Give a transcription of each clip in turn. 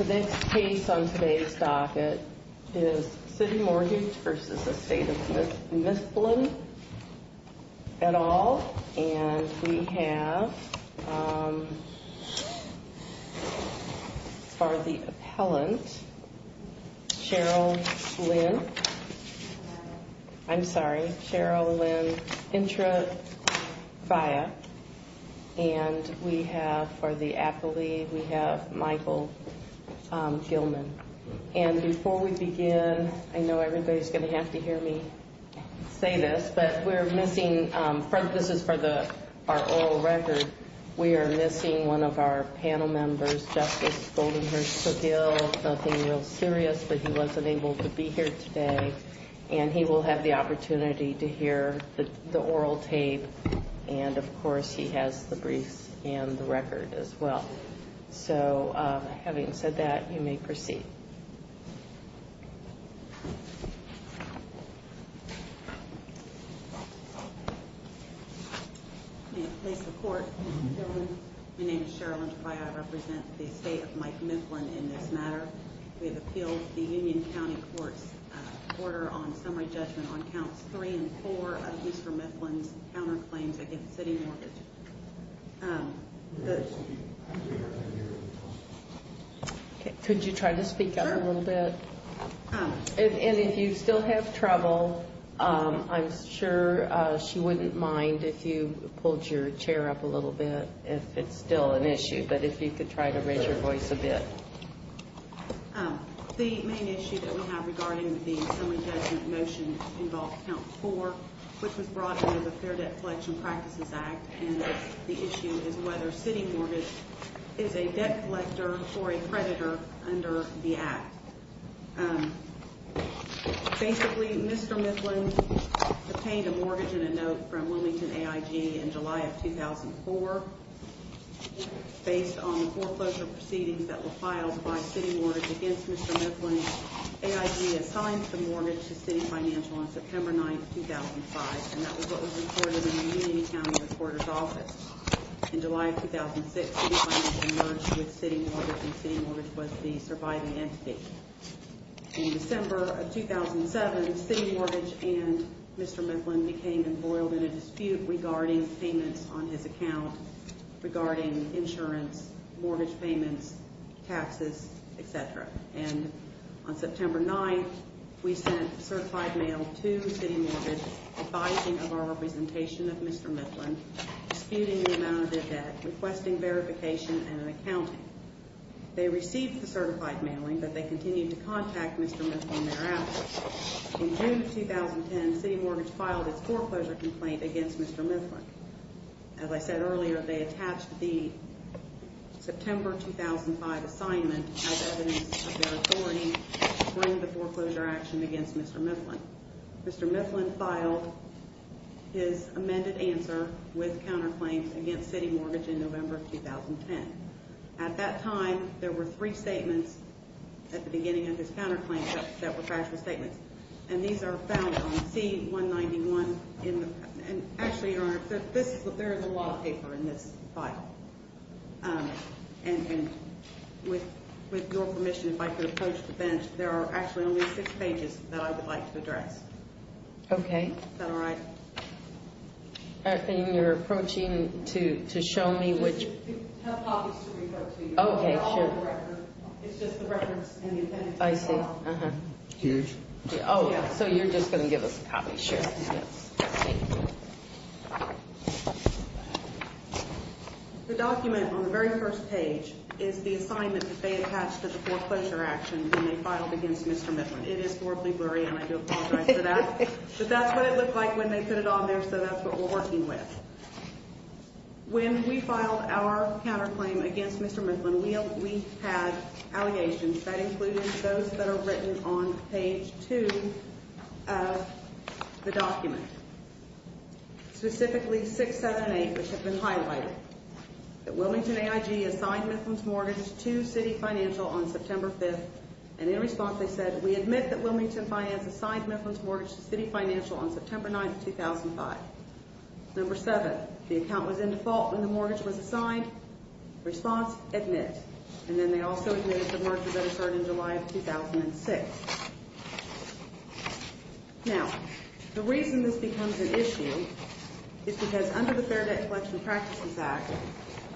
The case on today's docket is City Mortgage v. Estate of Mifflin. And we have for the appellant, Cheryl Lynn Intrafaya. And we have for the appellee, we have Michael Gilman. And before we begin, I know everybody's going to have to hear me say this, but we're missing, this is for our oral record. We are missing one of our panel members, Justice Goldenhurst-McGill. Nothing real serious, but he wasn't able to be here today. And he will have the opportunity to hear the oral tape. And, of course, he has the briefs and the record as well. So, having said that, you may proceed. May it please the Court. My name is Cheryl Lynn Intrafaya. I represent the Estate of Mike Mifflin in this matter. We have appealed the Union County Court's order on summary judgment on counts three and four of Mr. Mifflin's counterclaims against City Mortgage. Could you try to speak up a little bit? And if you still have trouble, I'm sure she wouldn't mind if you pulled your chair up a little bit if it's still an issue, but if you could try to raise your voice a bit. The main issue that we have regarding the summary judgment motion involves count four, which was brought under the Fair Debt Collection Practices Act. And the issue is whether City Mortgage is a debt collector or a creditor under the Act. Basically, Mr. Mifflin obtained a mortgage and a note from Wilmington AIG in July of 2004. Based on the foreclosure proceedings that were filed by City Mortgage against Mr. Mifflin, AIG assigned the mortgage to City Financial on September 9, 2005. And that was what was recorded in the Union County Reporter's Office. In July of 2006, City Financial merged with City Mortgage, and City Mortgage was the surviving entity. In December of 2007, City Mortgage and Mr. Mifflin became embroiled in a dispute regarding payments on his account regarding insurance, mortgage payments, taxes, etc. And on September 9, we sent a certified mail to City Mortgage advising of our representation of Mr. Mifflin, disputing the amount of the debt, requesting verification and an accounting. They received the certified mailing, but they continued to contact Mr. Mifflin thereafter. In June of 2010, City Mortgage filed its foreclosure complaint against Mr. Mifflin. As I said earlier, they attached the September 2005 assignment as evidence of their authority to bring the foreclosure action against Mr. Mifflin. Mr. Mifflin filed his amended answer with counterclaims against City Mortgage in November of 2010. At that time, there were three statements at the beginning of his counterclaims that were factual statements. And these are found on C191. And actually, Your Honor, there is a law paper in this file. And with your permission, if I could approach the bench, there are actually only six pages that I would like to address. Okay. Is that all right? And you're approaching to show me which... I have copies to refer to you. Okay, sure. They're all on the record. It's just the reference and the intended file. I see. Huge. Oh, so you're just going to give us copies? Sure. The document on the very first page is the assignment that they attached to the foreclosure action when they filed against Mr. Mifflin. It is horribly blurry, and I do apologize for that. But that's what it looked like when they put it on there, so that's what we're working with. When we filed our counterclaim against Mr. Mifflin, we had allegations that included those that are written on page 2 of the document, specifically 678, which had been highlighted, that Wilmington AIG assigned Mifflin's mortgage to City Financial on September 5th. And in response, they said, We admit that Wilmington Finance assigned Mifflin's mortgage to City Financial on September 9th, 2005. Number seven, the account was in default when the mortgage was assigned. Response, admit. And then they also admitted that the mortgage was registered in July of 2006. Now, the reason this becomes an issue is because under the Fair Debt Collection Practices Act,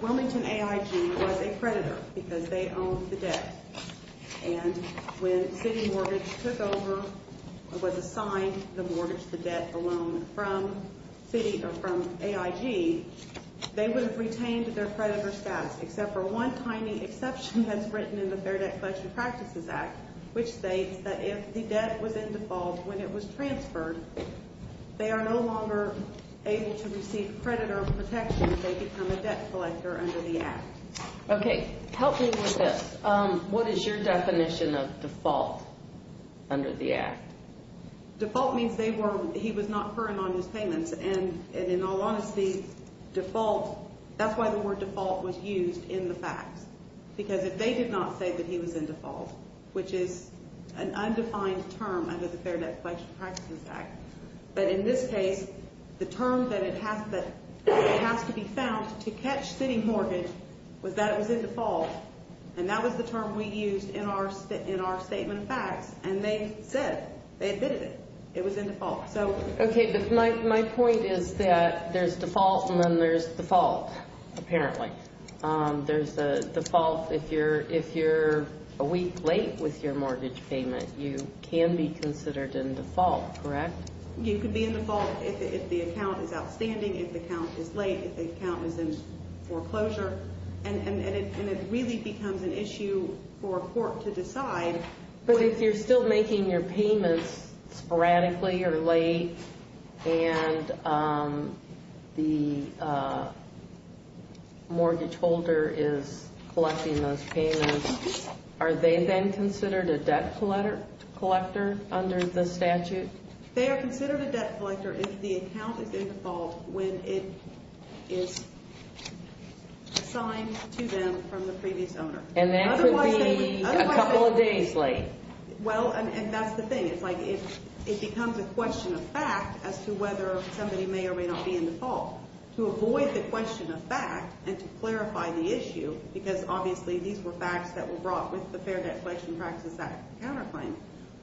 Wilmington AIG was a predator because they owned the debt. And when City Mortgage took over and was assigned the mortgage, the debt alone, from AIG, they would have retained their predator status, except for one tiny exception that's written in the Fair Debt Collection Practices Act, which states that if the debt was in default when it was transferred, they are no longer able to receive predator protection. They become a debt collector under the act. Okay. Help me with this. What is your definition of default under the act? Default means he was not current on his payments. And in all honesty, default, that's why the word default was used in the facts. Because if they did not say that he was in default, which is an undefined term under the Fair Debt Collection Practices Act, but in this case, the term that has to be found to catch City Mortgage was that it was in default. And that was the term we used in our statement of facts. And they said, they admitted it, it was in default. Okay, but my point is that there's default and then there's default, apparently. There's a default if you're a week late with your mortgage payment, you can be considered in default, correct? You can be in default if the account is outstanding, if the account is late, if the account is in foreclosure. And it really becomes an issue for a court to decide. But if you're still making your payments sporadically or late and the mortgage holder is collecting those payments, are they then considered a debt collector under the statute? They are considered a debt collector if the account is in default when it is assigned to them from the previous owner. And that would be a couple of days late. Well, and that's the thing. It's like it becomes a question of fact as to whether somebody may or may not be in default. To avoid the question of fact and to clarify the issue, because obviously these were facts that were brought with the Fair Debt Collection Practices Act counterclaim,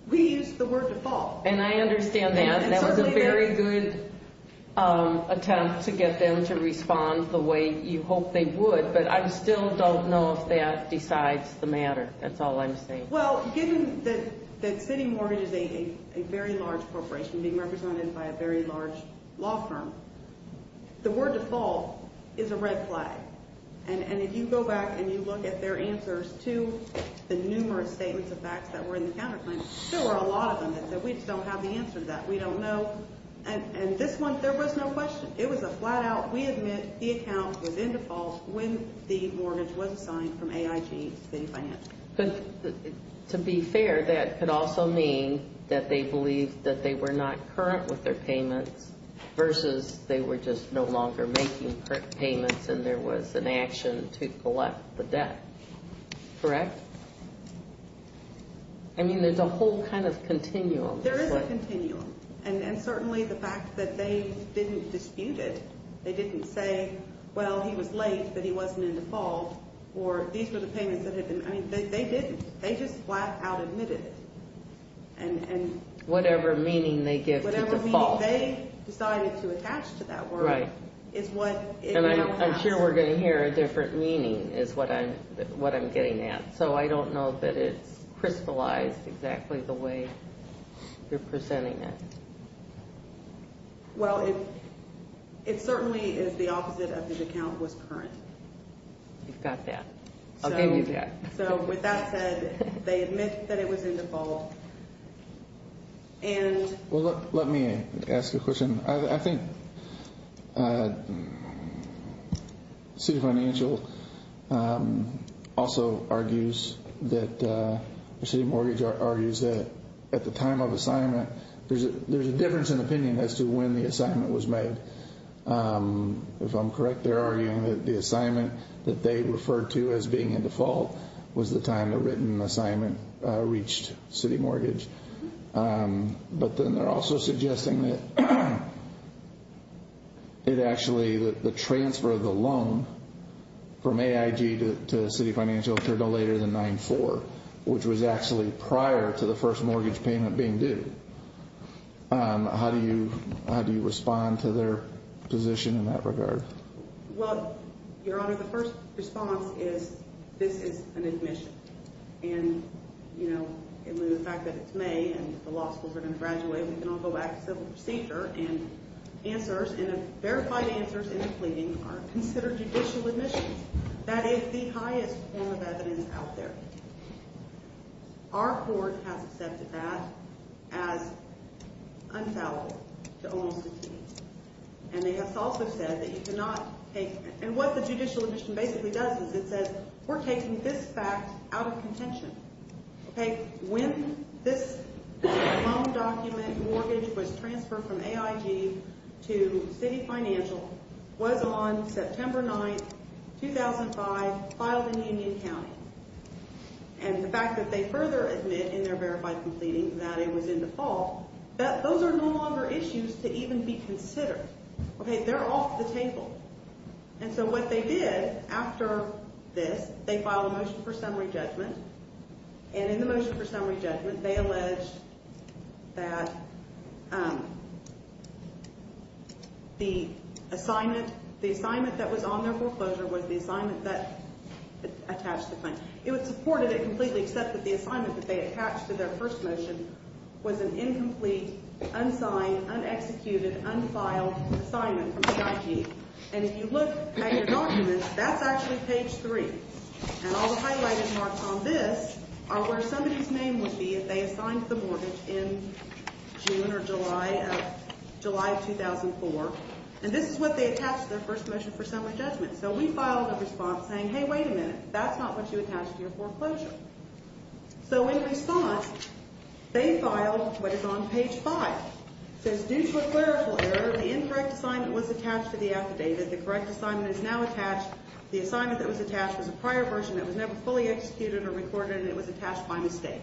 we used the word default. And I understand that. And that was a very good attempt to get them to respond the way you hoped they would. But I still don't know if that decides the matter. That's all I'm saying. Well, given that City Mortgage is a very large corporation being represented by a very large law firm, the word default is a red flag. And if you go back and you look at their answers to the numerous statements of facts that were in the counterclaim, there were a lot of them that said, we just don't have the answer to that. We don't know. And this one, there was no question. It was a flat out, we admit the account was in default when the mortgage was assigned from AIG City Finance. To be fair, that could also mean that they believed that they were not current with their payments versus they were just no longer making current payments and there was an action to collect the debt. Correct? I mean, there's a whole kind of continuum. There is a continuum. And certainly the fact that they didn't dispute it, they didn't say, well, he was late but he wasn't in default, or these were the payments that had been, I mean, they didn't. They just flat out admitted it. Whatever meaning they give to default. They decided to attach to that word is what it now has. And I'm sure we're going to hear a different meaning is what I'm getting at. So I don't know that it's crystallized exactly the way you're presenting it. Well, it certainly is the opposite of the account was current. You've got that. I'll give you that. So with that said, they admit that it was in default. Well, let me ask a question. I think City Financial also argues that City Mortgage argues that at the time of assignment, there's a difference in opinion as to when the assignment was made. If I'm correct, they're arguing that the assignment that they referred to as being in default was the time the written assignment reached City Mortgage. But then they're also suggesting that it actually, the transfer of the loan from AIG to City Financial occurred no later than 9-4, which was actually prior to the first mortgage payment being due. How do you respond to their position in that regard? Well, Your Honor, the first response is this is an admission. And, you know, given the fact that it's May and the law schools are going to graduate, we can all go back to civil procedure and answers, and verified answers in the pleading are considered judicial admissions. That is the highest form of evidence out there. Our court has accepted that as unfallible to almost a degree. And they have also said that you cannot take, and what the judicial admission basically does is it says we're taking this fact out of contention. Okay, when this loan document mortgage was transferred from AIG to City Financial was on September 9, 2005, filed in Union County. And the fact that they further admit in their verified pleading that it was in default, those are no longer issues to even be considered. Okay, they're off the table. And so what they did after this, they filed a motion for summary judgment. And in the motion for summary judgment, they alleged that the assignment, the assignment that was on their foreclosure was the assignment that attached the claim. It supported it completely except that the assignment that they attached to their first motion was an incomplete, unsigned, unexecuted, unfiled assignment from AIG. And if you look at your documents, that's actually page 3. And all the highlighted marks on this are where somebody's name would be if they assigned the mortgage in June or July of 2004. And this is what they attached to their first motion for summary judgment. So we filed a response saying, hey, wait a minute, that's not what you attached to your foreclosure. So in response, they filed what is on page 5. It says, due to a clerical error, the incorrect assignment was attached to the affidavit. The correct assignment is now attached. The assignment that was attached was a prior version that was never fully executed or recorded, and it was attached by mistake.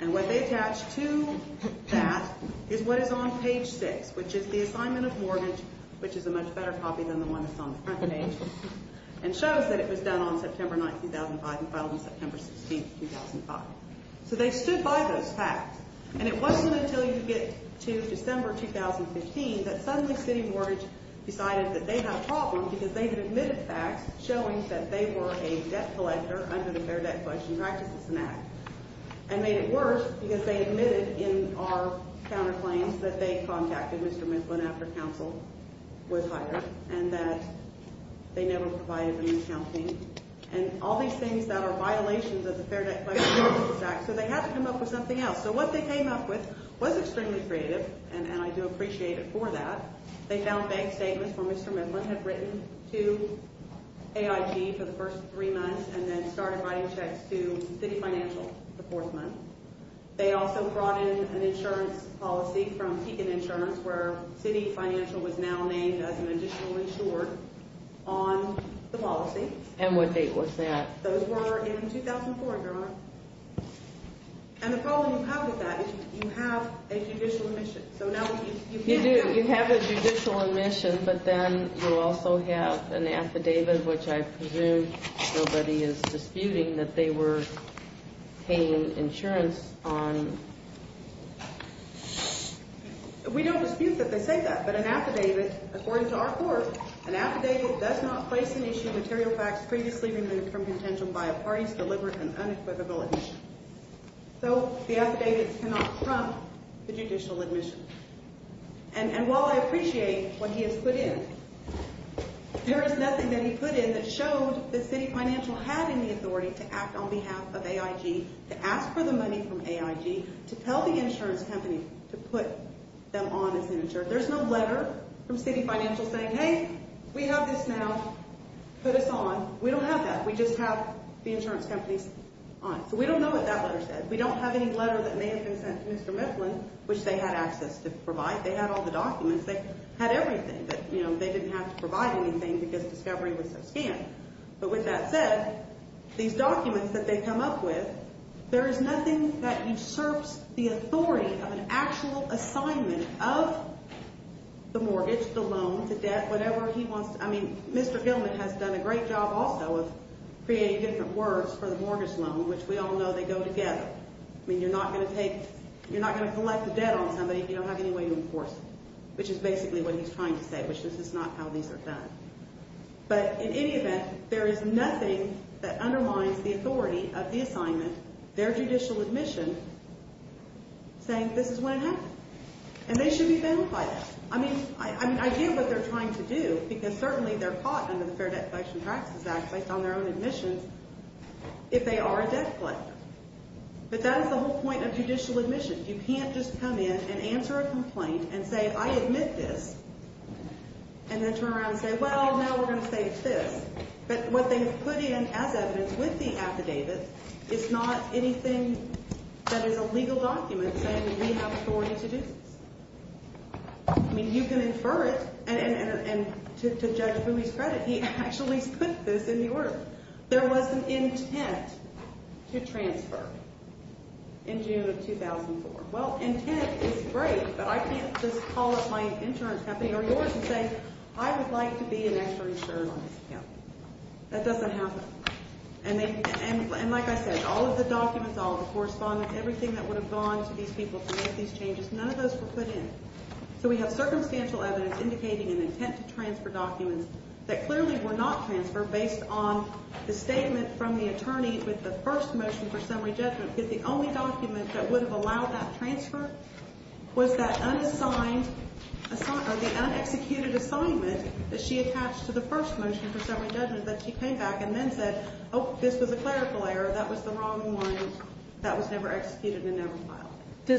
And what they attached to that is what is on page 6, which is the assignment of mortgage, which is a much better copy than the one that's on the front page, and shows that it was done on September 9, 2005 and filed on September 16, 2005. So they stood by those facts. And it wasn't until you get to December 2015 that Sunday City Mortgage decided that they had a problem because they had admitted facts showing that they were a debt collector under the Fair Debt Collection Practices Act and made it worse because they admitted in our counterclaims that they contacted Mr. Midland after counsel was hired and that they never provided any accounting and all these things that are violations of the Fair Debt Collection Practices Act, so they had to come up with something else. So what they came up with was extremely creative, and I do appreciate it for that. They found bank statements where Mr. Midland had written to AIG for the first three months and then started writing checks to City Financial the fourth month. They also brought in an insurance policy from Keegan Insurance, where City Financial was now named as an additional insured on the policy. And what date was that? Those were in 2004, Your Honor. And the problem you have with that is you have a judicial admission. You do. You have a judicial admission, but then you also have an affidavit, which I presume nobody is disputing that they were paying insurance on. We don't dispute that they say that, but an affidavit, according to our court, an affidavit does not place an issue of material facts previously removed from contention by a party's deliberate and unequivocal admission. So the affidavit cannot trump the judicial admission. And while I appreciate what he has put in, there is nothing that he put in that showed that City Financial had any authority to act on behalf of AIG, to ask for the money from AIG, to tell the insurance company to put them on as an insured. There's no letter from City Financial saying, hey, we have this now, put us on. We don't have that. We just have the insurance companies on. So we don't know what that letter said. We don't have any letter that may have been sent to Mr. Mifflin, which they had access to provide. They had all the documents. They had everything. But, you know, they didn't have to provide anything because discovery was so scant. But with that said, these documents that they come up with, there is nothing that usurps the authority of an actual assignment of the mortgage, the loan, the debt, whatever he wants. I mean, Mr. Gilman has done a great job also of creating different words for the mortgage loan, which we all know they go together. I mean, you're not going to take, you're not going to collect the debt on somebody if you don't have any way to enforce it, which is basically what he's trying to say, which is this is not how these are done. But in any event, there is nothing that undermines the authority of the assignment, their judicial admission, saying this is what happened. And they should be banned by that. I mean, I get what they're trying to do because certainly they're caught under the Fair Debt Collection Taxes Act based on their own admission if they are a debt collector. But that is the whole point of judicial admission. You can't just come in and answer a complaint and say, I admit this, and then turn around and say, well, now we're going to say it's this. But what they have put in as evidence with the affidavit is not anything that is a legal document saying that we have authority to do this. I mean, you can infer it. And to judge Boomey's credit, he actually put this in the order. There was an intent to transfer in June of 2004. Well, intent is great, but I can't just call up my insurance company or yours and say, I would like to be an extra insurer on this account. That doesn't happen. And like I said, all of the documents, all of the correspondence, everything that would have gone to these people to make these changes, none of those were put in. So we have circumstantial evidence indicating an intent to transfer documents that clearly were not transferred based on the statement from the attorney with the first motion for summary judgment. Because the only document that would have allowed that transfer was that unexecuted assignment that she attached to the first motion for summary judgment. But she came back and then said, oh, this was a clerical error. That was the wrong one. That was never executed and never filed. Did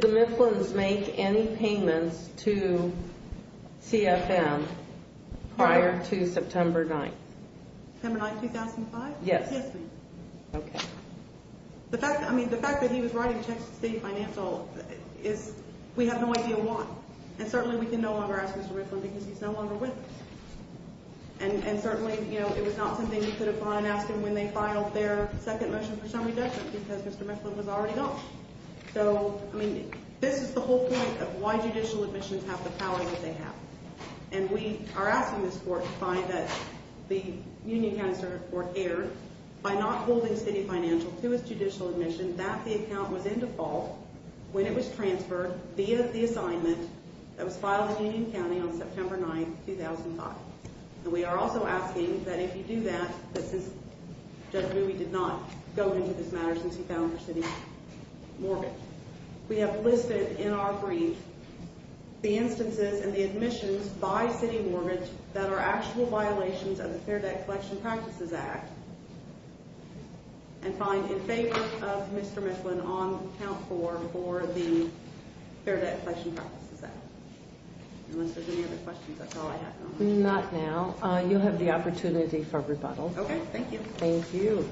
the Mifflin's make any payments to CFM prior to September 9th? September 9th, 2005? Yes. Okay. The fact that he was writing checks to state financial is we have no idea why. And certainly we can no longer ask Mr. Mifflin because he's no longer with us. And certainly, you know, it was not something you could have gone and asked him when they filed their second motion for summary judgment because Mr. Mifflin was already gone. So, I mean, this is the whole point of why judicial admissions have the power that they have. And we are asking this court to find that the Union County Circuit Court erred by not holding city financial to its judicial admission that the account was in default when it was transferred via the assignment that was filed in Union County on September 9th, 2005. And we are also asking that if you do that, that since Judge Ruby did not go into this matter since he filed for city mortgage, we have listed in our brief the instances and the admissions by city mortgage that are actual violations of the Fair Debt Collection Practices Act and find in favor of Mr. Mifflin on count four for the Fair Debt Collection Practices Act. Unless there's any other questions, that's all I have. Not now. You'll have the opportunity for rebuttal. Okay. Thank you. Thank you.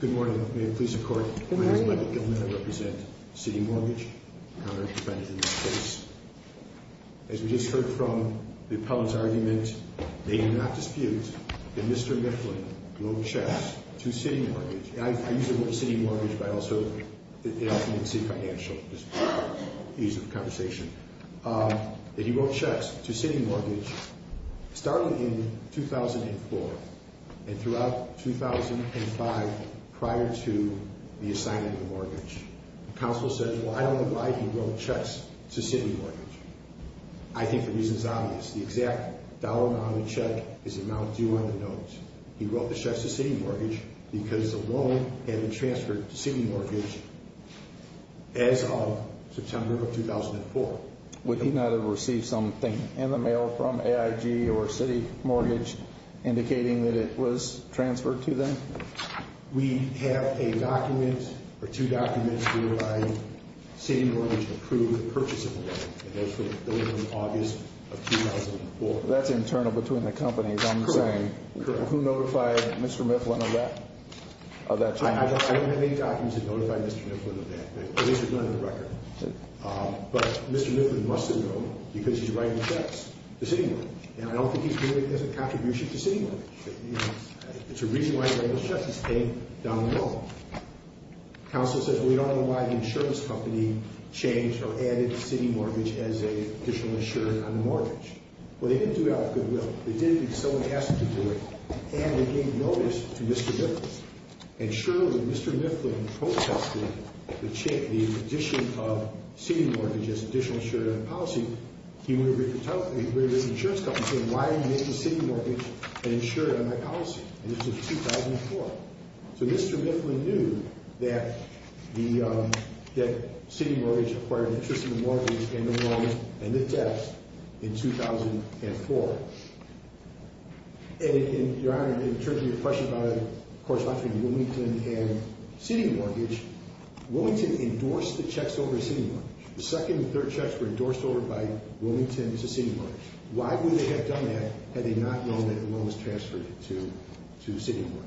Good morning. May it please the Court. Good morning. My name is Michael Gilman. I represent city mortgage. I'm a counter defendant in this case. As we just heard from the public's argument, may it not dispute, that Mr. Mifflin wrote checks to city mortgage. I usually go to city mortgage, but I also – it often means city financial, just for the ease of the conversation. That he wrote checks to city mortgage starting in 2004 and throughout 2005 prior to the assignment of the mortgage. The counsel said, well, I don't know why he wrote checks to city mortgage. I think the reason is obvious. The exact dollar amount on the check is the amount due on the note. He wrote the checks to city mortgage because the loan had been transferred to city mortgage as of September of 2004. Would he not have received something in the mail from AIG or city mortgage indicating that it was transferred to them? We have a document or two documents to provide city mortgage to approve the purchase of the loan that goes from August of 2004. That's internal between the companies, I'm saying. Correct. Who notified Mr. Mifflin of that? I don't have any documents that notify Mr. Mifflin of that. At least none of the record. But Mr. Mifflin must have known because he's writing checks to city mortgage. And I don't think he's doing it as a contribution to city mortgage. It's a reason why he's writing checks. He's paying down the loan. Counsel says, well, we don't know why the insurance company changed or added city mortgage as an additional insurer on the mortgage. Well, they didn't do it out of goodwill. They did it because someone asked them to do it. And they gave notice to Mr. Mifflin. And surely if Mr. Mifflin protested the addition of city mortgage as an additional insurer on the policy, he would have written to the insurance company saying, why are you making city mortgage an insurer on my policy? And this was 2004. So Mr. Mifflin knew that city mortgage acquired an interest in the mortgage and the loan and the tax in 2004. And, Your Honor, in terms of your question about it, of course, I'm talking about Wilmington and city mortgage, Wilmington endorsed the checks over city mortgage. The second and third checks were endorsed over by Wilmington to city mortgage. Why would they have done that had they not known that the loan was transferred to city mortgage?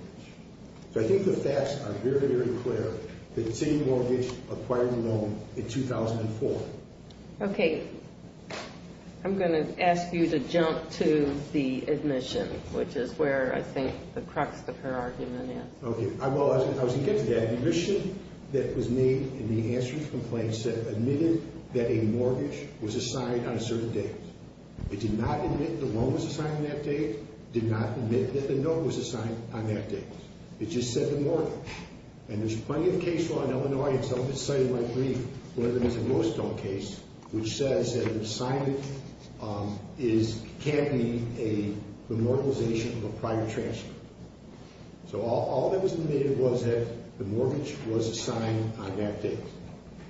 So I think the facts are very, very clear that city mortgage acquired the loan in 2004. Okay. I'm going to ask you to jump to the admission, which is where I think the crux of her argument is. Okay. I was going to get to that. The admission that was made in the answer to the complaint said that a mortgage was assigned on a certain date. It did not admit that the loan was assigned on that date. It did not admit that the note was assigned on that date. It just said the mortgage. And there's plenty of case law in Illinois, and some of it's cited in my brief, whether it's the Lewis Stone case, which says that an assignment can be a memorialization of a prior transfer. So all that was admitted was that the mortgage was assigned on that date.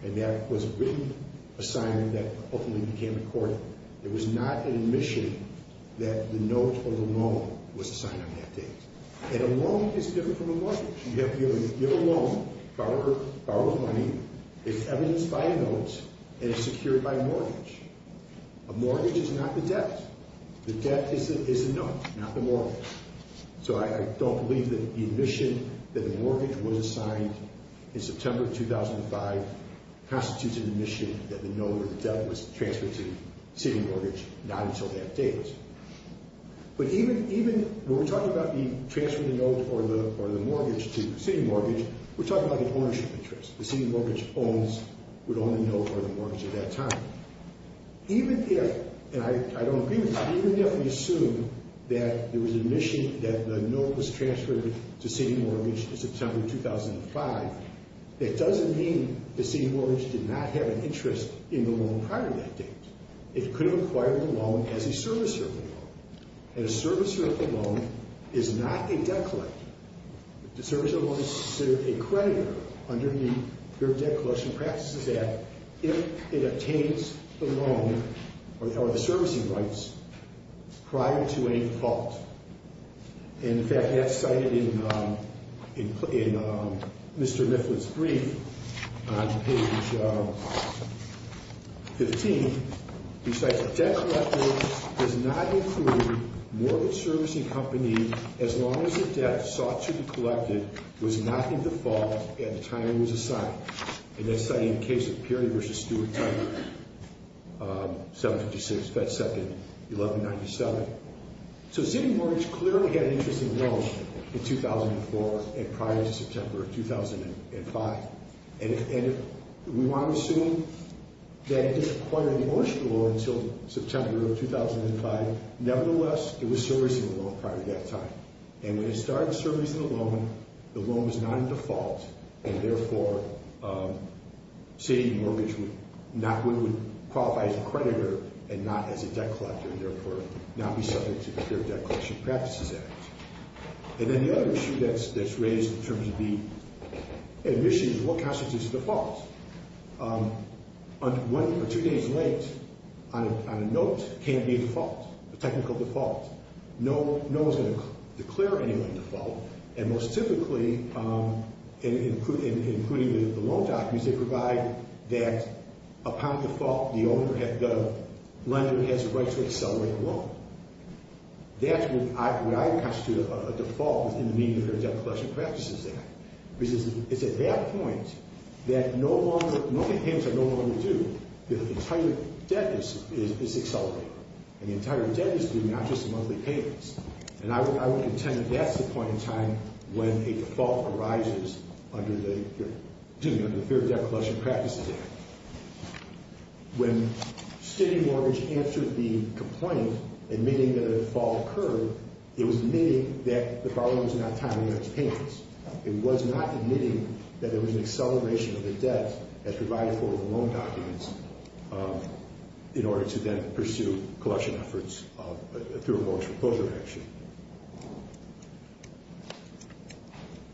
And that was a written assignment that ultimately became a court. It was not an admission that the note or the loan was assigned on that date. And a loan is different from a mortgage. You have to give a loan, borrow money, it's evidenced by a note, and it's secured by a mortgage. A mortgage is not the debt. The debt is the note, not the mortgage. So I don't believe that the admission that the mortgage was assigned in September 2005 constitutes an admission that the note or the debt was transferred to the sitting mortgage not until that date. But even when we're talking about the transfer of the note or the mortgage to the sitting mortgage, we're talking about an ownership interest. The sitting mortgage would own the note or the mortgage at that time. Even if, and I don't agree with that, even if we assume that there was admission that the note was transferred to sitting mortgage in September 2005, that doesn't mean the sitting mortgage did not have an interest in the loan prior to that date. It could have acquired the loan as a service-serving loan. And a service-serving loan is not a debt collector. A service-serving loan is considered a creditor under the Debt Collection Practices Act if it obtains the loan or the servicing rights prior to any default. And in fact, that's cited in Mr. Mifflin's brief on page 15. He cites a debt collector does not include mortgage servicing company as long as the debt sought to be collected was not in default and the time was assigned. And that's cited in the case of Peary v. Stewart-Tiger, 756 Fed 2nd, 1197. So sitting mortgage clearly had an interest in the loan in 2004 and prior to September 2005. And we want to assume that it didn't acquire the ownership of the loan until September of 2005. Nevertheless, it was servicing the loan prior to that time. And when it started servicing the loan, the loan was not in default, and therefore sitting mortgage would qualify as a creditor and not as a debt collector, and therefore not be subject to the Peary Debt Collection Practices Act. And then the other issue that's raised in terms of the admission is what constitutes a default. One or two days late on a note can be a default, a technical default. No one's going to declare anyone default. And most typically, including the loan documents, they provide that upon default, the lender has the right to accelerate the loan. That's what I would constitute a default in the meeting of the Peary Debt Collection Practices Act. Because it's at that point that no longer payments are no longer due. The entire debt is accelerated. And the entire debt is due, not just the monthly payments. And I would contend that that's the point in time when a default arises under the Peary Debt Collection Practices Act. When sitting mortgage answered the complaint, admitting that a default occurred, it was admitting that the problem was not timing on its payments. It was not admitting that there was an acceleration of the debt as provided for with the loan documents in order to then pursue collection efforts through a mortgage proposal action.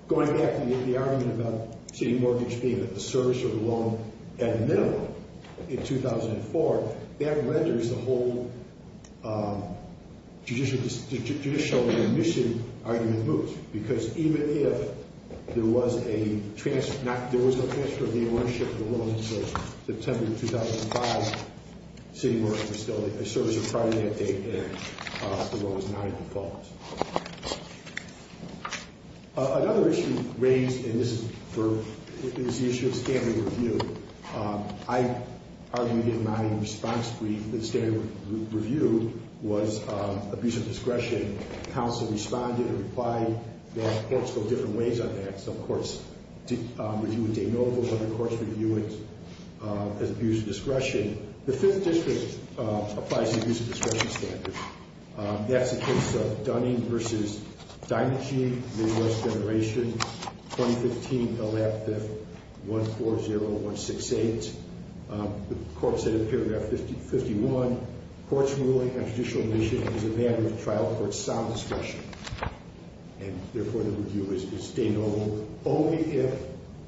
Going back to the argument about sitting mortgage being a service or a loan at a minimum in 2004, that renders the whole judicial remission argument moot. Because even if there was a transfer of the ownership of the loan until September 2005, sitting mortgage was still a service prior to that date and the loan was not a default. Another issue raised, and this is for, is the issue of standard review. I argue in my response brief that standard review was abuse of discretion. Counsel responded and replied that courts go different ways on that. Some courts review it denotable, other courts review it as abuse of discretion. The Fifth District applies an abuse of discretion standard. That's the case of Dunning v. Dinegeen, Midwest Generation, 2015, L.A. 5th, 140168. The court said in paragraph 51, courts ruling on judicial remission is a matter of trial for its sound discretion. And, therefore, the review is denotable only if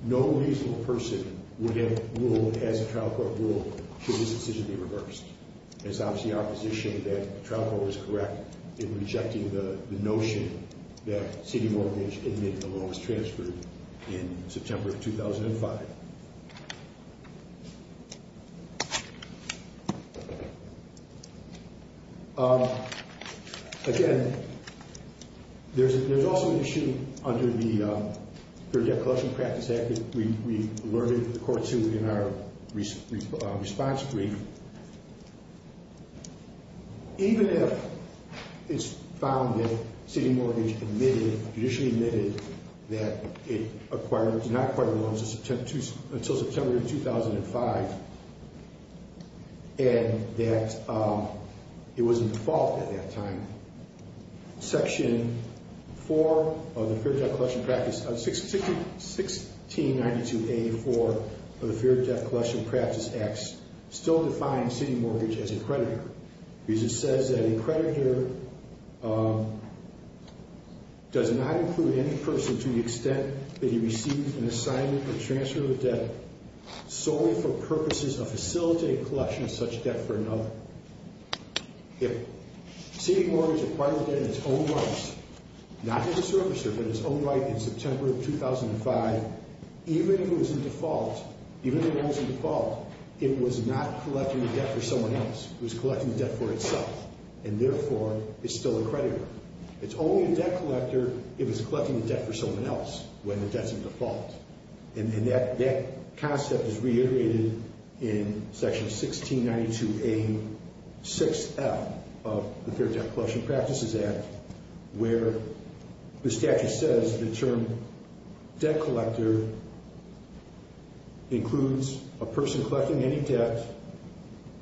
no reasonable person would have ruled, should this decision be reversed. It's obviously our position that the trial court was correct in rejecting the notion that sitting mortgage and making a loan was transferred in September 2005. Again, there's also an issue under the Fair Debt Collection Practice Act that we alerted the court to in our response brief. Even if it's found that sitting mortgage admitted, judicially admitted, that it acquired, did not acquire loans until September 2005, and that it was in default at that time, Section 4 of the Fair Debt Collection Practice, 1692A4 of the Fair Debt Collection Practice Acts still defines sitting mortgage as a creditor. Because it says that a creditor does not include any person to the extent that he receives an assignment or transfer of debt solely for purposes of facilitating collection of such debt for another. If sitting mortgage acquired the debt in its own rights, not as a servicer, but in its own right in September 2005, even if it was in default, even if it was in default, it was not collecting the debt for someone else. It was collecting the debt for itself. And, therefore, it's still a creditor. It's only a debt collector if it's collecting the debt for someone else when the debt's in default. And that concept is reiterated in Section 1692A6F of the Fair Debt Collection Practices Act, where the statute says the term debt collector includes a person collecting any debt,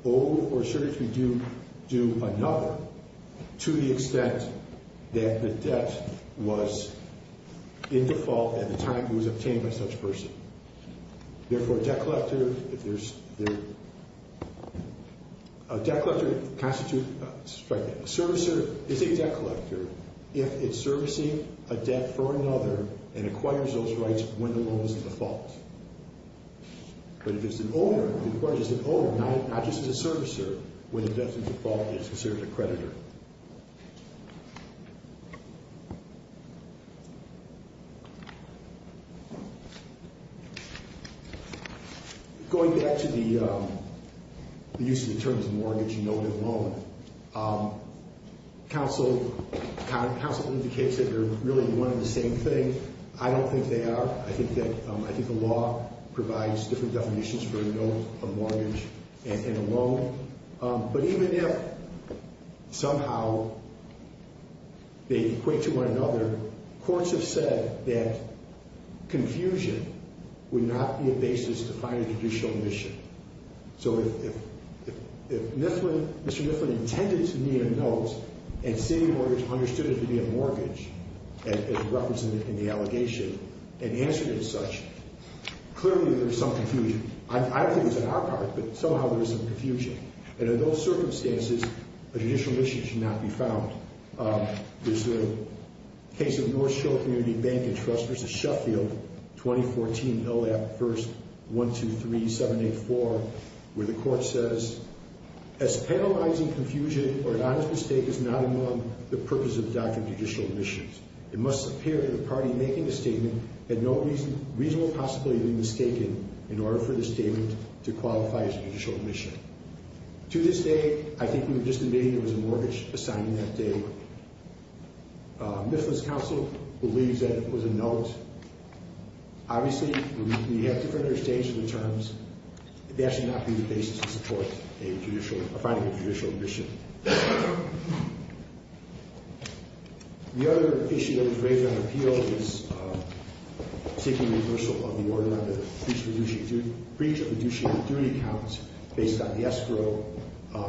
owed or surrogately due another, to the extent that the debt was in default at the time it was obtained by such a person. Therefore, a debt collector is a debt collector if it's servicing a debt for another and acquires those rights when the loan is in default. But if it's an owner, if the clerk is an owner, not just a servicer, when the debt's in default, it's considered a creditor. Going back to the use of the term mortgage and noted loan, counsel indicates that they're really one and the same thing. I don't think they are. I think the law provides different definitions for a note, a mortgage, and a loan. But even if somehow they equate to one another, courts have said that confusion would not be a basis to find a judicial omission. So if Mr. Mifflin intended to need a note and City Mortgage understood it to be a mortgage, as represented in the allegation, and answered it as such, clearly there is some confusion. I don't think it's on our part, but somehow there is some confusion. And in those circumstances, a judicial omission should not be found. There's a case of North Shore Community Bank and Trusters at Sheffield, 2014, LAP 1-123-784, where the court says, As penalizing confusion or an honest mistake is not among the purpose of doctrine of judicial omissions, it must appear that the party making the statement had no reasonable possibility of being mistaken in order for the statement to qualify as a judicial omission. To this day, I think we were just debating there was a mortgage assigned on that day. Mifflin's counsel believes that it was a note. Obviously, we have to finish changing the terms. That should not be the basis to support finding a judicial omission. The other issue that was raised on appeal is seeking the reversal of the order on the breach of fiduciary duty count based on the escrow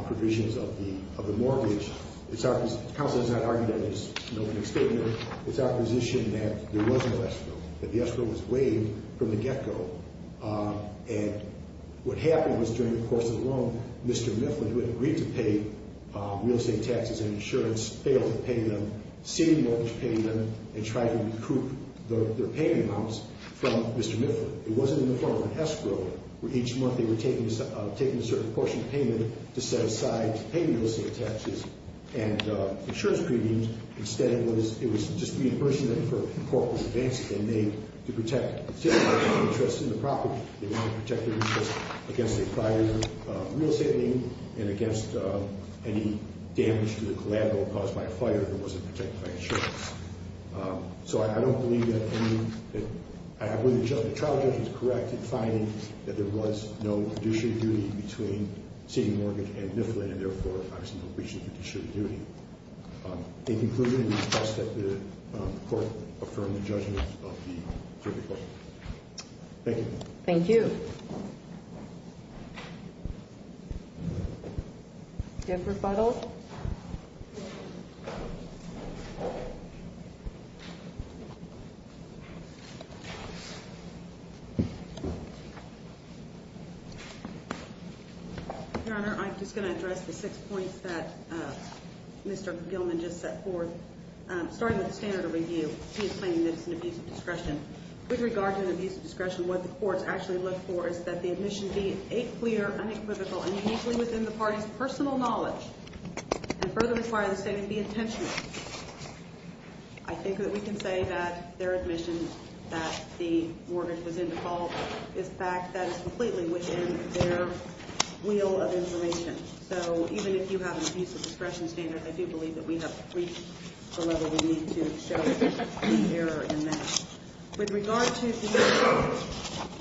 provisions of the mortgage. The counsel has not argued that it's an opening statement. It's our position that there was no escrow, that the escrow was waived from the get-go. And what happened was, during the course of the loan, Mr. Mifflin, who had agreed to pay real estate taxes and insurance, failed to pay them, seeking mortgage payment and trying to recoup their payment amounts from Mr. Mifflin. It wasn't in the form of an escrow, where each month they were taking a certain portion of payment to set aside to pay real estate taxes and insurance premiums. Instead, it was just the inversion that the court was advancing, and they, to protect the interest in the property, they wanted to protect the interest against a prior real estate lien and against any damage to the collateral caused by a fire that wasn't protected by insurance. So I don't believe that any – I believe the trial judge was correct in finding that there was no fiduciary duty between CD Morgan and Mifflin, and therefore, there was no breach of fiduciary duty. In conclusion, we request that the court affirm the judgment of the jury court. Thank you. Thank you. Do we have a rebuttal? Rebuttal. Your Honor, I'm just going to address the six points that Mr. Gilman just set forth. Starting with the standard of review, he is claiming that it's an abuse of discretion. With regard to an abuse of discretion, what the courts actually look for is that the admission be a clear, unequivocal, and uniquely within the party's personal knowledge, and further require the statement be intentional. I think that we can say that their admission that the mortgage was in default is a fact that is completely within their wheel of information. So even if you have an abuse of discretion standard, I do believe that we have reached the level we need to show the error in that. With regard to the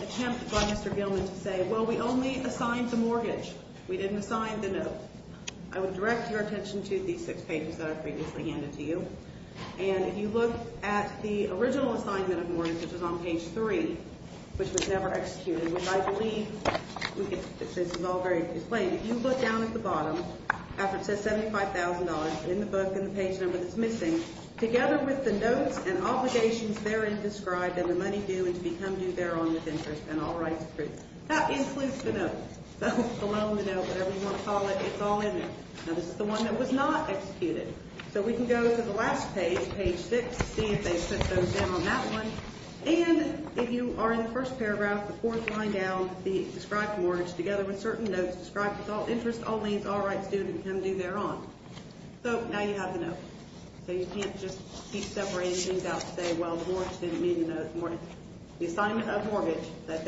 attempt by Mr. Gilman to say, well, we only assigned the mortgage. We didn't assign the note. I would direct your attention to these six pages that I previously handed to you. And if you look at the original assignment of mortgage, which was on page 3, which was never executed, which I believe we can say is all very plain. If you look down at the bottom, after it says $75,000, and in the book in the page number that's missing, together with the notes and obligations therein described, and the money due, and to become due thereon with interest, and all rights approved. That includes the note, the loan, the note, whatever you want to call it. It's all in there. Now, this is the one that was not executed. So we can go to the last page, page 6, to see if they've put those in on that one. And if you are in the first paragraph, the fourth line down, the described mortgage, together with certain notes, described with all interest, all means, all rights due, and to become due thereon. So now you have the note. So you can't just keep separating things out and say, well, the mortgage didn't meet the note. The assignment of mortgage that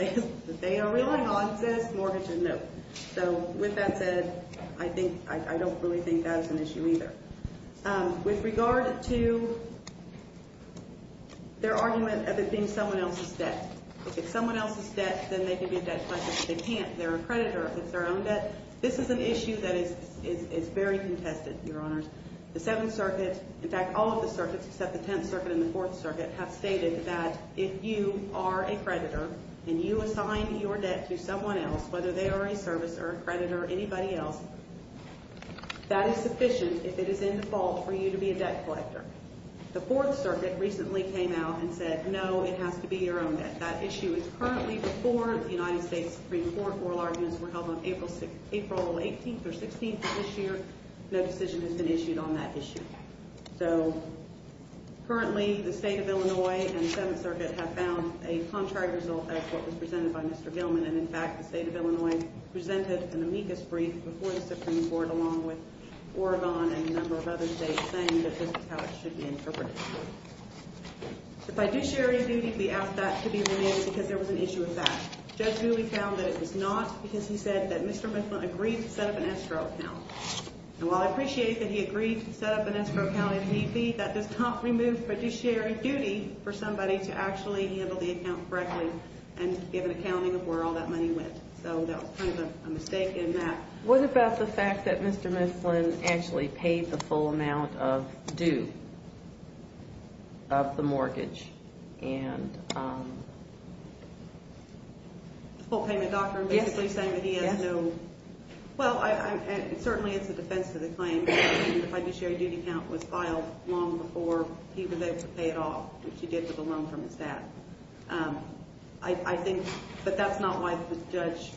they are relying on says mortgage is no. So with that said, I don't really think that's an issue either. With regard to their argument of it being someone else's debt, if it's someone else's debt, then they can be a debt collector. If they can't, they're a creditor. If it's their own debt, this is an issue that is very contested, Your Honors. The Seventh Circuit, in fact, all of the circuits except the Tenth Circuit and the Fourth Circuit, have stated that if you are a creditor and you assign your debt to someone else, whether they are a servicer, a creditor, anybody else, that is sufficient if it is in default for you to be a debt collector. The Fourth Circuit recently came out and said, no, it has to be your own debt. That issue is currently before the United States Supreme Court. Oral arguments were held on April 18th or 16th of this year. No decision has been issued on that issue. So currently, the State of Illinois and the Seventh Circuit have found a contrary result of what was presented by Mr. Gilman. And, in fact, the State of Illinois presented an amicus brief before the Supreme Court along with Oregon and a number of other states saying that this is how it should be interpreted. If I do share your duty, we ask that to be removed because there was an issue with that. Judge Newley found that it was not because he said that Mr. Mifflin agreed to set up an escrow account. And while I appreciate that he agreed to set up an escrow account if need be, that does not remove fiduciary duty for somebody to actually handle the account correctly and give an accounting of where all that money went. So that was kind of a mistake in that. What about the fact that Mr. Mifflin actually paid the full amount of due of the mortgage? The full payment doctrine basically saying that he has no... Well, certainly it's a defense to the claim that the fiduciary duty account was filed long before he was able to pay it off, which he did with a loan from his dad. But that's not why the judge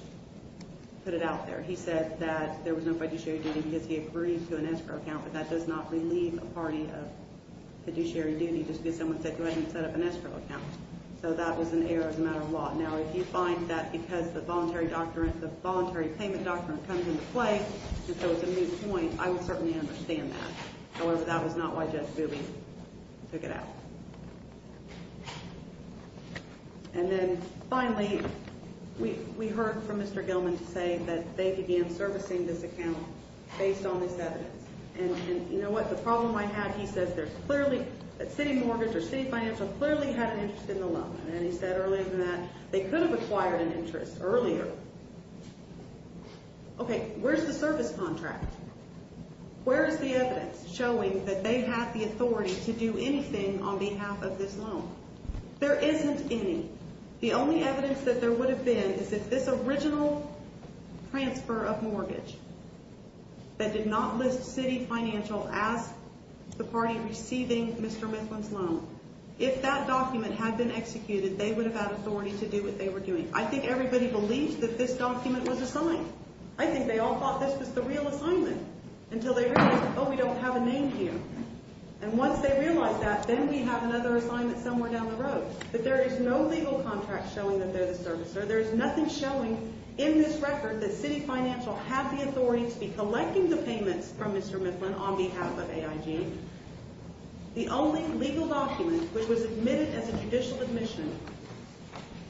put it out there. He said that there was no fiduciary duty because he agreed to an escrow account, but that does not relieve a party of fiduciary duty just because someone said go ahead and set up an escrow account. So that was an error as a matter of law. Now, if you find that because the voluntary payment doctrine comes into play, and so it's a moot point, I would certainly understand that. However, that was not why Judge Gooby took it out. And then finally, we heard from Mr. Gilman to say that they began servicing this account based on this evidence. And you know what? The problem I have, he says, that City Mortgage or City Financial clearly had an interest in the loan. And he said earlier in that they could have acquired an interest earlier. Okay, where's the service contract? Where is the evidence showing that they have the authority to do anything on behalf of this loan? There isn't any. The only evidence that there would have been is if this original transfer of mortgage that did not list City Financial as the party receiving Mr. Mifflin's loan, if that document had been executed, they would have had authority to do what they were doing. I think everybody believes that this document was assigned. I think they all thought this was the real assignment until they realized, oh, we don't have a name here. And once they realized that, then we have another assignment somewhere down the road. But there is no legal contract showing that they're the servicer. There is nothing showing in this record that City Financial had the authority to be collecting the payments from Mr. Mifflin on behalf of AIG. The only legal document which was admitted as a judicial admission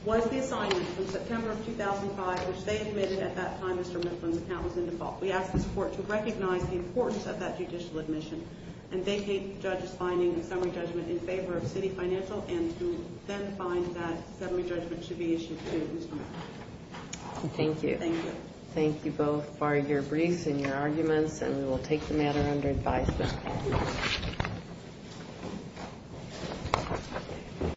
was the assignment from September of 2005, which they admitted at that time Mr. Mifflin's account was in default. We ask this court to recognize the importance of that judicial admission, and vacate the judge's finding and summary judgment in favor of City Financial and to then find that summary judgment should be issued to Mr. Mifflin. Thank you. Thank you. Thank you both for your briefs and your arguments, and we will take the matter under advisement.